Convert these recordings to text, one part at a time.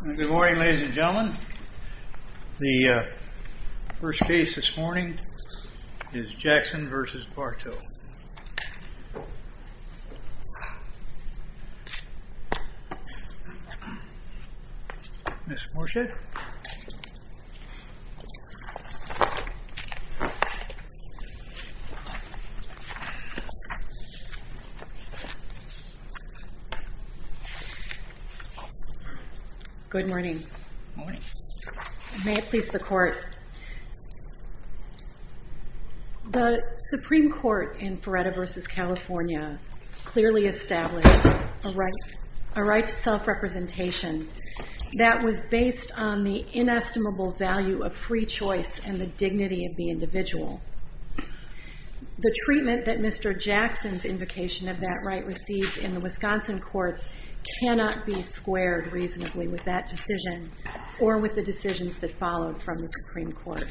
Good morning, ladies and gentlemen. The first case this morning is Jackson v. Bartow. Ms. Morshad. Good morning. May it please the Court. The Supreme Court in Feretta v. California clearly established a right to self-representation that was based on the inestimable value of free choice and the dignity of the individual. The treatment that Mr. Jackson's invocation of that right received in the Wisconsin courts cannot be squared reasonably with that decision or with the decisions that followed from the Supreme Court.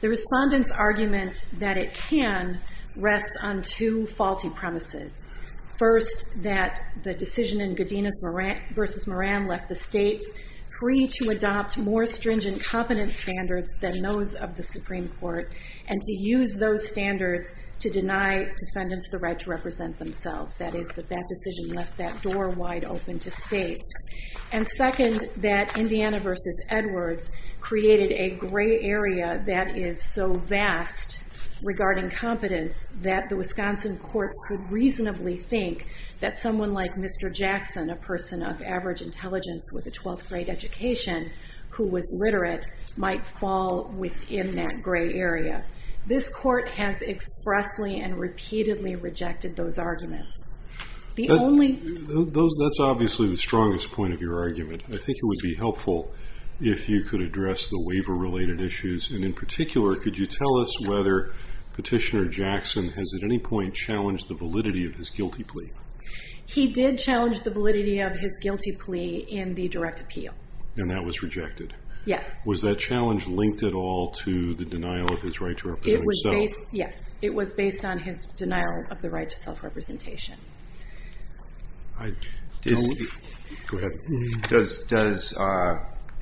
The respondent's argument that it can rests on two faulty premises. First, that the decision in Godinez v. Moran left the states free to adopt more stringent competence standards than those of the Supreme Court and to use those standards to deny defendants the right to represent themselves. That is, that that decision left that door wide open to states. And second, that Indiana v. Edwards created a gray area that is so vast regarding competence that the Wisconsin courts could reasonably think that someone like Mr. Jackson, a person of average intelligence with a 12th grade education who was literate, might fall within that gray area. This court has expressly and repeatedly rejected those arguments. That's obviously the strongest point of your argument. I think it would be helpful if you could address the waiver-related issues. And in particular, could you tell us whether Petitioner Jackson has at any point challenged the validity of his guilty plea? He did challenge the validity of his guilty plea in the direct appeal. And that was rejected? Yes. Was that challenge linked at all to the denial of his right to represent himself? Yes. It was based on his denial of the right to self-representation. Go ahead. Does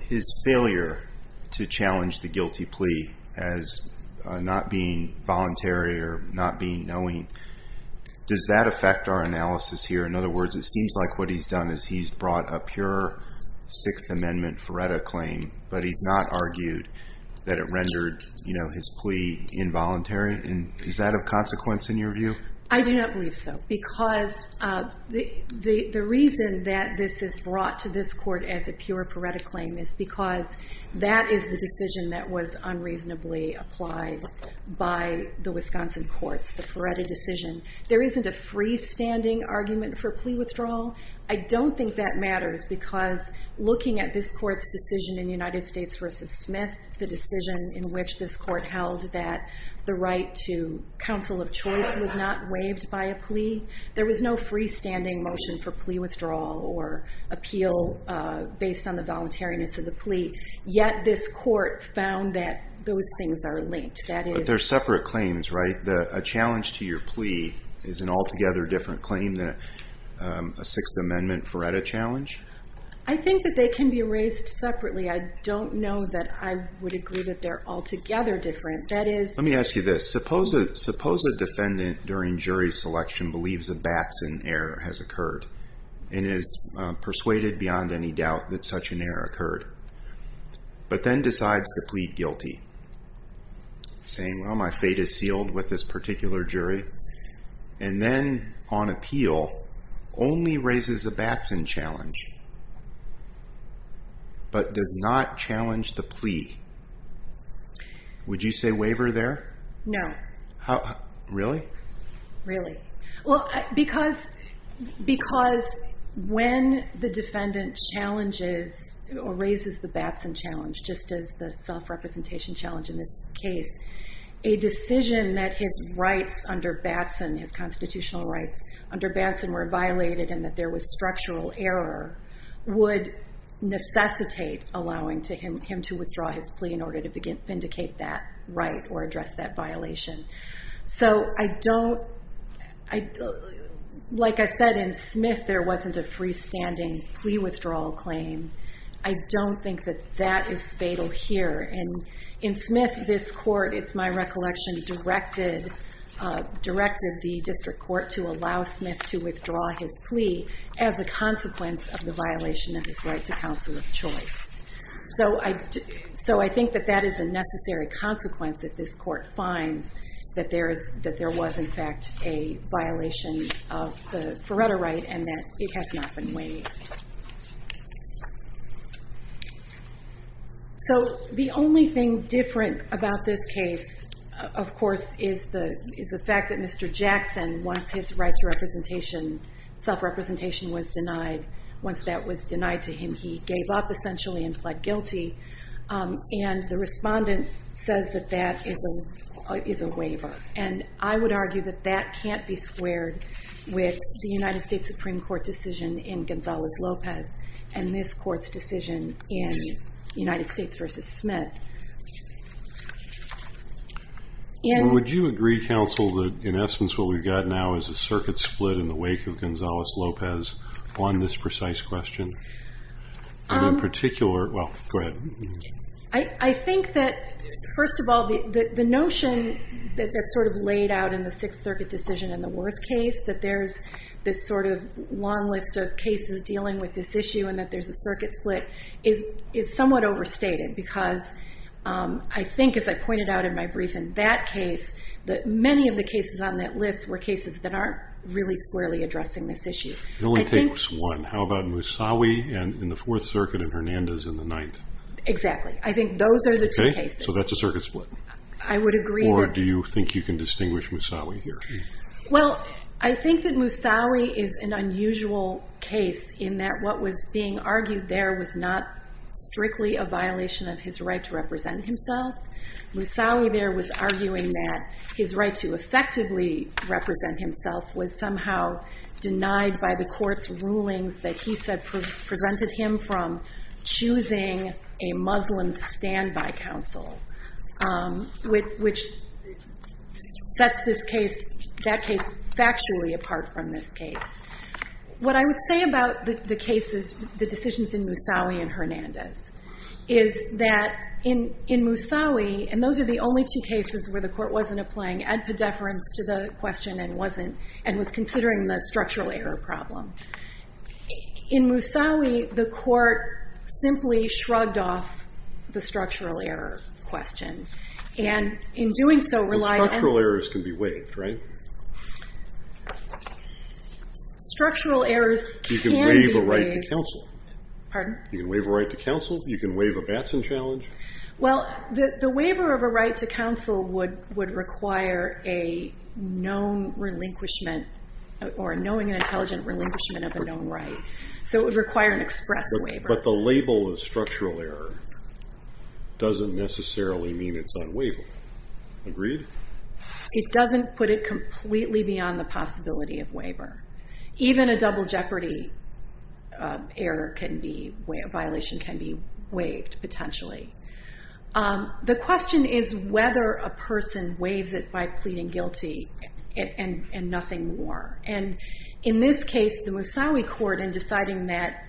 his failure to challenge the guilty plea as not being voluntary or not being knowing, does that affect our analysis here? In other words, it seems like what he's done is he's brought a pure Sixth Amendment FREDA claim, but he's not argued that it rendered his plea involuntary. Is that a consequence in your view? I do not believe so because the reason that this is brought to this court as a pure FREDA claim is because that is the decision that was unreasonably applied by the Wisconsin courts, the FREDA decision. There isn't a freestanding argument for plea withdrawal. I don't think that matters because looking at this court's decision in United States v. Smith, the decision in which this court held that the right to counsel of choice was not waived by a plea, there was no freestanding motion for plea withdrawal or appeal based on the voluntariness of the plea. Yet this court found that those things are linked. But they're separate claims, right? A challenge to your plea is an altogether different claim than a Sixth Amendment FREDA challenge? I think that they can be raised separately. I don't know that I would agree that they're altogether different. Let me ask you this. Suppose a defendant during jury selection believes a Batson error has occurred and is persuaded beyond any doubt that such an error occurred, but then decides to plead guilty, saying, well, my fate is sealed with this particular jury, and then on appeal only raises a Batson challenge but does not challenge the plea. Would you say waiver there? No. Really? Really. Because when the defendant challenges or raises the Batson challenge, just as the self-representation challenge in this case, a decision that his constitutional rights under Batson were violated and that there was structural error would necessitate allowing him to withdraw his plea in order to vindicate that right or address that violation. So like I said, in Smith there wasn't a freestanding plea withdrawal claim. I don't think that that is fatal here. In Smith, this court, it's my recollection, directed the district court to allow Smith to withdraw his plea as a consequence of the violation of his right to counsel of choice. So I think that that is a necessary consequence if this court finds that there was, in fact, a violation of the Feretta right and that it has not been waived. So the only thing different about this case, of course, is the fact that Mr. Jackson, once his right to self-representation was denied, once that was denied to him, he gave up essentially and pled guilty. And the respondent says that that is a waiver. And I would argue that that can't be squared with the United States Supreme Court decision in Gonzalez-Lopez and this court's decision in United States v. Smith. And would you agree, counsel, that in essence what we've got now is a circuit split in the wake of Gonzalez-Lopez on this precise question? In a particular, well, go ahead. I think that, first of all, the notion that's sort of laid out in the Sixth Circuit decision in the Worth case, that there's this sort of long list of cases dealing with this issue and that there's a circuit split is somewhat overstated because I think, as I pointed out in my brief in that case, that many of the cases on that list were cases that aren't really squarely addressing this issue. It only takes one. How about Musawi in the Fourth Circuit and Hernandez in the Ninth? Exactly. I think those are the two cases. Okay. So that's a circuit split. I would agree. Or do you think you can distinguish Musawi here? Well, I think that Musawi is an unusual case in that what was being argued there was not strictly a violation of his right to represent himself. Musawi there was arguing that his right to effectively represent himself was somehow denied by the court's rulings that he said presented him from choosing a Muslim standby counsel, which sets that case factually apart from this case. What I would say about the decisions in Musawi and Hernandez is that in Musawi, and those are the only two cases where the court wasn't applying ad pedeference to the question and was considering the structural error problem. In Musawi, the court simply shrugged off the structural error question, and in doing so relied on the structural error. The structural errors can be waived, right? Structural errors can be waived. You can waive a right to counsel. Pardon? You can waive a right to counsel. You can waive a Batson challenge. Well, the waiver of a right to counsel would require a known relinquishment or a knowing and intelligent relinquishment of a known right, so it would require an express waiver. But the label of structural error doesn't necessarily mean it's unwaivable. Agreed? It doesn't put it completely beyond the possibility of waiver. Even a double jeopardy violation can be waived, potentially. The question is whether a person waives it by pleading guilty and nothing more. And in this case, the Musawi court, in deciding that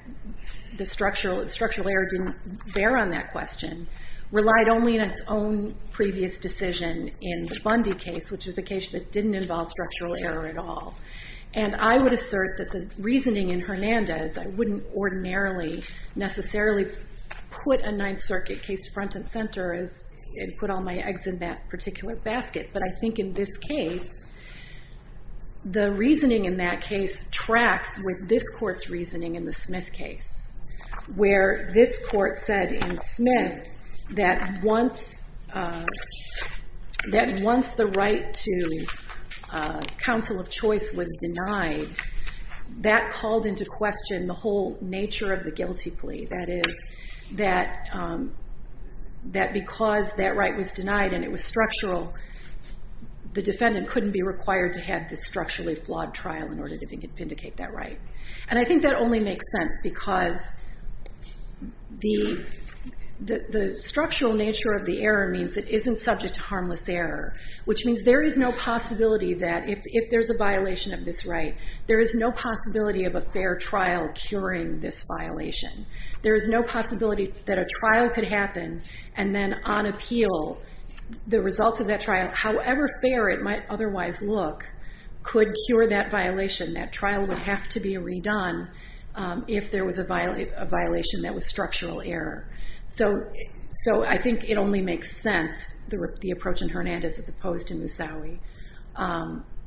the structural error didn't bear on that question, relied only on its own previous decision in the Bundy case, which was the case that didn't involve structural error at all. And I would assert that the reasoning in Hernandez, I wouldn't ordinarily necessarily put a Ninth Circuit case front and center and put all my eggs in that particular basket. But I think in this case, the reasoning in that case tracks with this court's reasoning in the Smith case, where this court said in Smith that once the right to counsel of choice was denied, that called into question the whole nature of the guilty plea. That is, that because that right was denied and it was structural, the defendant couldn't be required to have this structurally flawed trial in order to vindicate that right. And I think that only makes sense because the structural nature of the error means it isn't subject to harmless error, which means there is no possibility that if there's a violation of this right, there is no possibility of a fair trial curing this violation. There is no possibility that a trial could happen and then on appeal the results of that trial, however fair it might otherwise look, could cure that violation. That trial would have to be redone if there was a violation that was structural error. So I think it only makes sense, the approach in Hernandez as opposed to Musawi,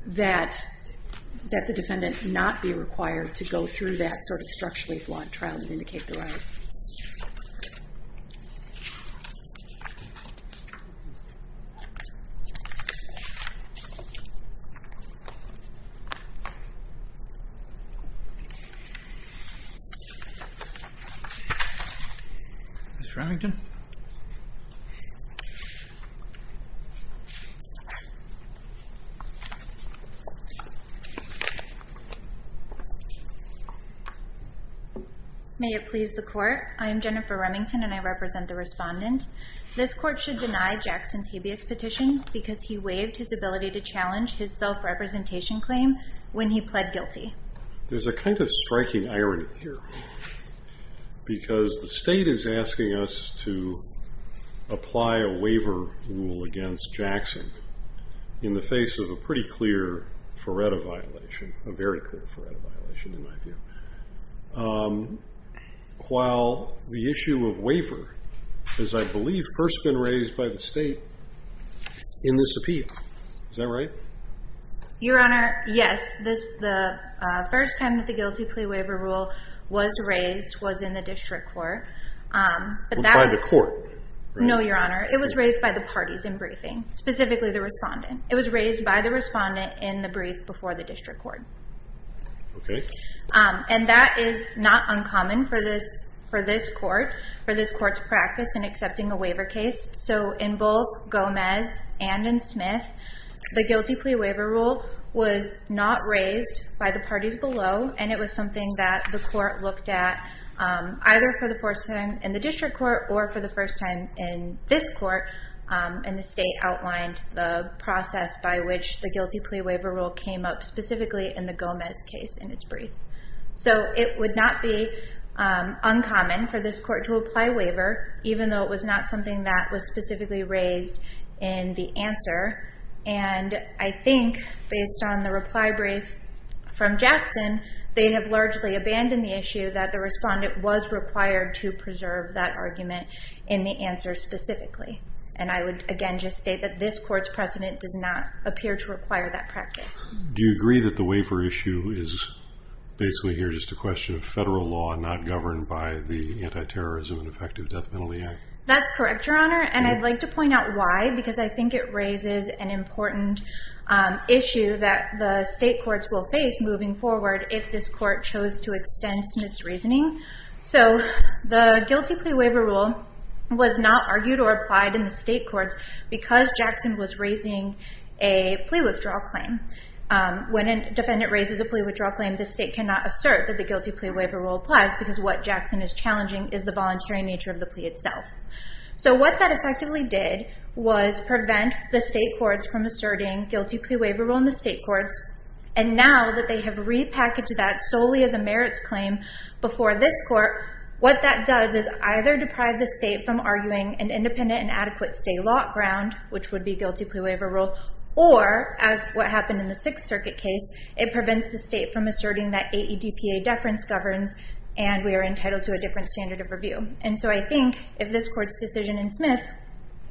that the defendant not be required to go through that sort of structurally flawed trial to vindicate the right. Ms. Remington. May it please the court. I am Jennifer Remington and I represent the respondent. This court should deny Jackson's habeas petition because he waived his ability to challenge his self-representation claim when he pled guilty. There's a kind of striking irony here because the state is asking us to apply a waiver rule against Jackson in the face of a pretty clear Feretta violation, a very clear Feretta violation in my view, while the issue of waiver has, I believe, first been raised by the state in this appeal. Is that right? Your Honor, yes. The first time that the guilty plea waiver rule was raised was in the district court. By the court? No, Your Honor. It was raised by the parties in briefing, specifically the respondent. It was raised by the respondent in the brief before the district court. Okay. And that is not uncommon for this court, for this court's practice in accepting a waiver case. So in both Gomez and in Smith, the guilty plea waiver rule was not raised by the parties below, and it was something that the court looked at either for the first time in the district court or for the first time in this court, and the state outlined the process by which the guilty plea waiver rule came up specifically in the Gomez case in its brief. So it would not be uncommon for this court to apply a waiver even though it was not something that was specifically raised in the answer. And I think based on the reply brief from Jackson, they have largely abandoned the issue that the respondent was required to preserve that argument in the answer specifically. And I would, again, just state that this court's precedent does not appear to require that practice. Do you agree that the waiver issue is basically here just a question of federal law not governed by the Anti-Terrorism and Effective Death Penalty Act? That's correct, Your Honor, and I'd like to point out why, because I think it raises an important issue that the state courts will face moving forward if this court chose to extend Smith's reasoning. So the guilty plea waiver rule was not argued or applied in the state courts because Jackson was raising a plea withdrawal claim. When a defendant raises a plea withdrawal claim, the state cannot assert that the guilty plea waiver rule applies because what Jackson is challenging is the voluntary nature of the plea itself. So what that effectively did was prevent the state courts from asserting guilty plea waiver rule in the state courts, and now that they have repackaged that solely as a merits claim before this court, what that does is either deprive the state from arguing an independent and adequate state law ground, which would be guilty plea waiver rule, or as what happened in the Sixth Circuit case, it prevents the state from asserting that AEDPA deference governs and we are entitled to a different standard of review. And so I think if this court's decision in Smith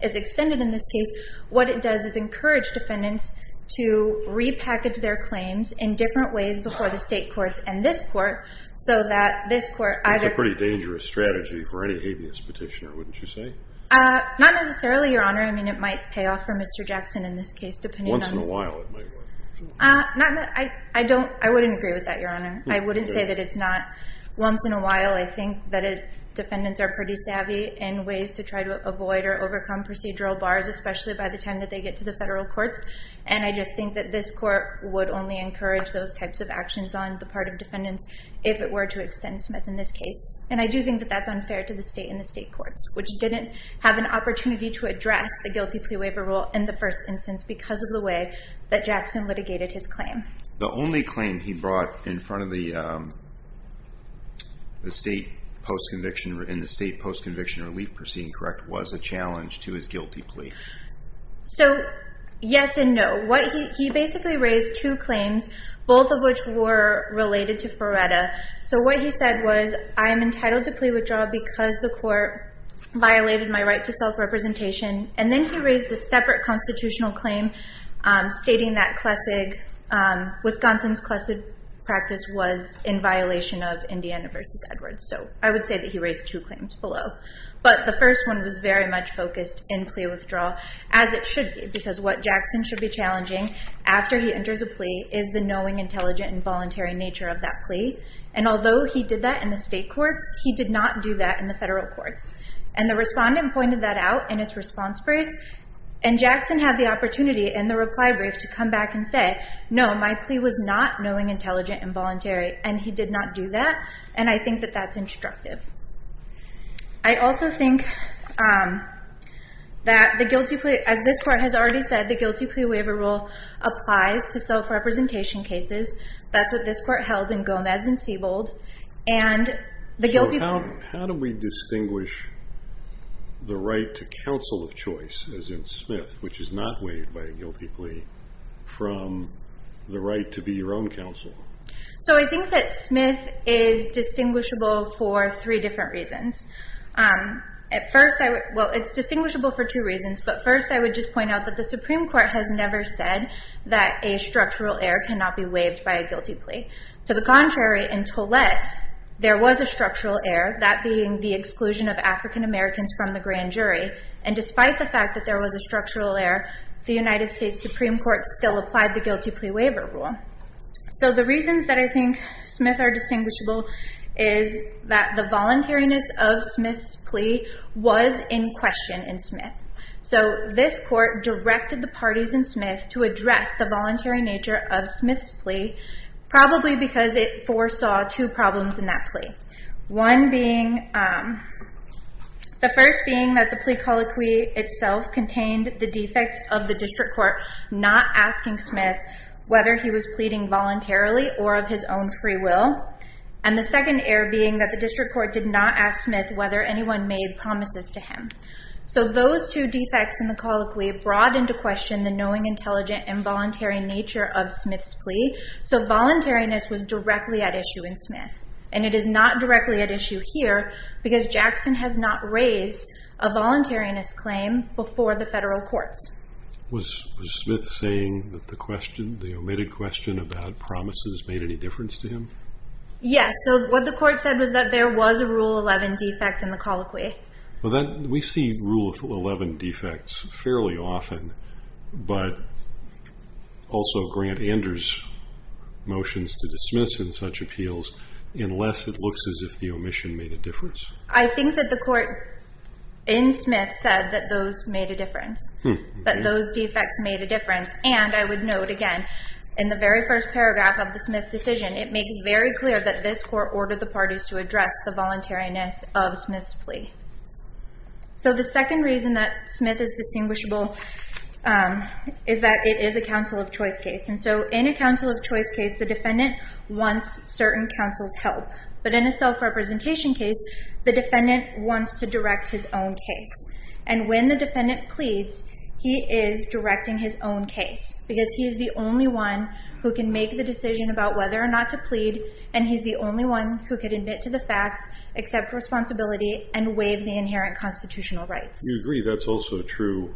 is extended in this case, what it does is encourage defendants to repackage their claims in different ways before the state courts and this court so that this court either— That's a pretty dangerous strategy for any habeas petitioner, wouldn't you say? Not necessarily, Your Honor. I mean, it might pay off for Mr. Jackson in this case, depending on— Once in a while it might work. I wouldn't agree with that, Your Honor. I wouldn't say that it's not once in a while. I think that defendants are pretty savvy in ways to try to avoid or overcome procedural bars, especially by the time that they get to the federal courts, and I just think that this court would only encourage those types of actions on the part of defendants if it were to extend Smith in this case. And I do think that that's unfair to the state and the state courts, which didn't have an opportunity to address the guilty plea waiver rule in the first instance because of the way that Jackson litigated his claim. The only claim he brought in front of the state post-conviction— in the state post-conviction relief proceeding, correct, was a challenge to his guilty plea? So, yes and no. He basically raised two claims, both of which were related to Ferretta. So what he said was, I am entitled to plea withdrawal because the court violated my right to self-representation, and then he raised a separate constitutional claim stating that Wisconsin's Clessig practice was in violation of Indiana v. Edwards. So I would say that he raised two claims below. But the first one was very much focused in plea withdrawal, as it should be, because what Jackson should be challenging after he enters a plea is the knowing, intelligent, and voluntary nature of that plea. And although he did that in the state courts, he did not do that in the federal courts. And the respondent pointed that out in its response brief, and Jackson had the opportunity in the reply brief to come back and say, no, my plea was not knowing, intelligent, and voluntary. And he did not do that, and I think that that's instructive. I also think that the guilty plea—as this court has already said, the guilty plea waiver rule applies to self-representation cases. That's what this court held in Gomez and Siebold. So how do we distinguish the right to counsel of choice, as in Smith, which is not waived by a guilty plea, from the right to be your own counsel? So I think that Smith is distinguishable for three different reasons. Well, it's distinguishable for two reasons, but first I would just point out that the Supreme Court has never said that a structural error cannot be waived by a guilty plea. To the contrary, in Tollett, there was a structural error, that being the exclusion of African Americans from the grand jury. And despite the fact that there was a structural error, the United States Supreme Court still applied the guilty plea waiver rule. So the reasons that I think Smith are distinguishable is that the voluntariness of Smith's plea was in question in Smith. So this court directed the parties in Smith to address the voluntary nature of Smith's plea, probably because it foresaw two problems in that plea. One being, the first being that the plea colloquy itself contained the defect of the district court not asking Smith whether he was pleading voluntarily or of his own free will. And the second error being that the district court did not ask Smith whether anyone made promises to him. So those two defects in the colloquy brought into question the knowing, intelligent, and voluntary nature of Smith's plea, so voluntariness was directly at issue in Smith. And it is not directly at issue here, because Jackson has not raised a voluntariness claim before the federal courts. Was Smith saying that the question, the omitted question about promises made any difference to him? Yes. So what the court said was that there was a Rule 11 defect in the colloquy. We see Rule 11 defects fairly often, but also Grant Anders' motions to dismiss in such appeals, unless it looks as if the omission made a difference. I think that the court in Smith said that those made a difference, that those defects made a difference. And I would note again, in the very first paragraph of the Smith decision, it makes very clear that this court ordered the parties to address the voluntariness of Smith's plea. So the second reason that Smith is distinguishable is that it is a counsel of choice case. And so in a counsel of choice case, the defendant wants certain counsel's help. But in a self-representation case, the defendant wants to direct his own case. And when the defendant pleads, he is directing his own case, because he is the only one who can make the decision about whether or not to plead, and he's the only one who can admit to the facts, accept responsibility, and waive the inherent constitutional rights. You agree that's also a true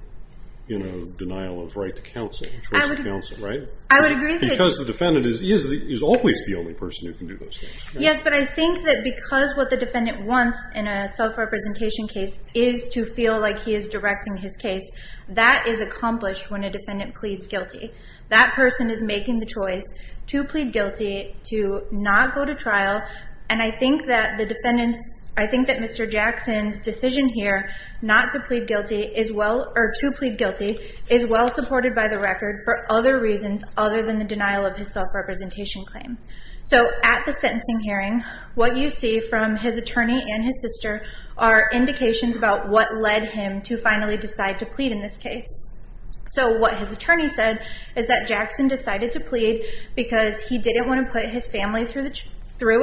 denial of right to counsel, the choice of counsel, right? I would agree that... Because the defendant is always the only person who can do those things. Yes, but I think that because what the defendant wants in a self-representation case is to feel like he is directing his case, that is accomplished when a defendant pleads guilty. That person is making the choice to plead guilty, to not go to trial, and I think that the defendant's... I think that Mr. Jackson's decision here not to plead guilty is well... Or to plead guilty is well supported by the record for other reasons other than the denial of his self-representation claim. So at the sentencing hearing, what you see from his attorney and his sister are indications about what led him to finally decide to plead in this case. So what his attorney said is that Jackson decided to plead because he didn't want to put his family through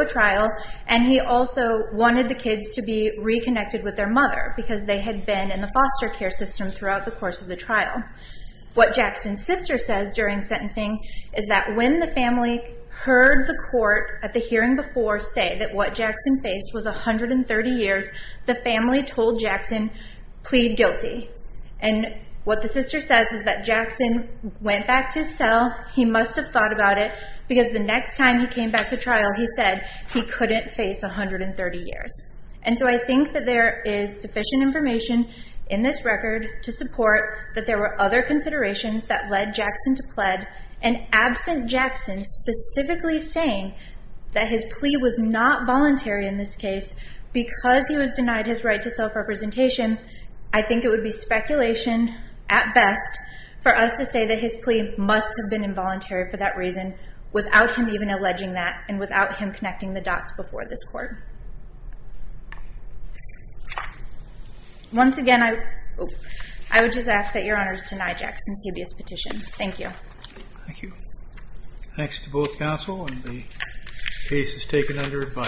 a trial, and he also wanted the kids to be reconnected with their mother because they had been in the foster care system throughout the course of the trial. What Jackson's sister says during sentencing is that when the family heard the court at the hearing before say that what Jackson faced was 130 years, the family told Jackson, plead guilty. And what the sister says is that Jackson went back to his cell, he must have thought about it, because the next time he came back to trial, he said he couldn't face 130 years. And so I think that there is sufficient information in this record to support that there were other considerations that led Jackson to plead, and absent Jackson specifically saying that his plea was not voluntary in this case because he was denied his right to self-representation, I think it would be speculation at best for us to say that his plea must have been involuntary for that reason without him even alleging that and without him connecting the dots before this court. Once again, I would just ask that Your Honors deny Jackson's habeas petition. Thank you. Thank you. Thanks to both counsel, and the case is taken under review.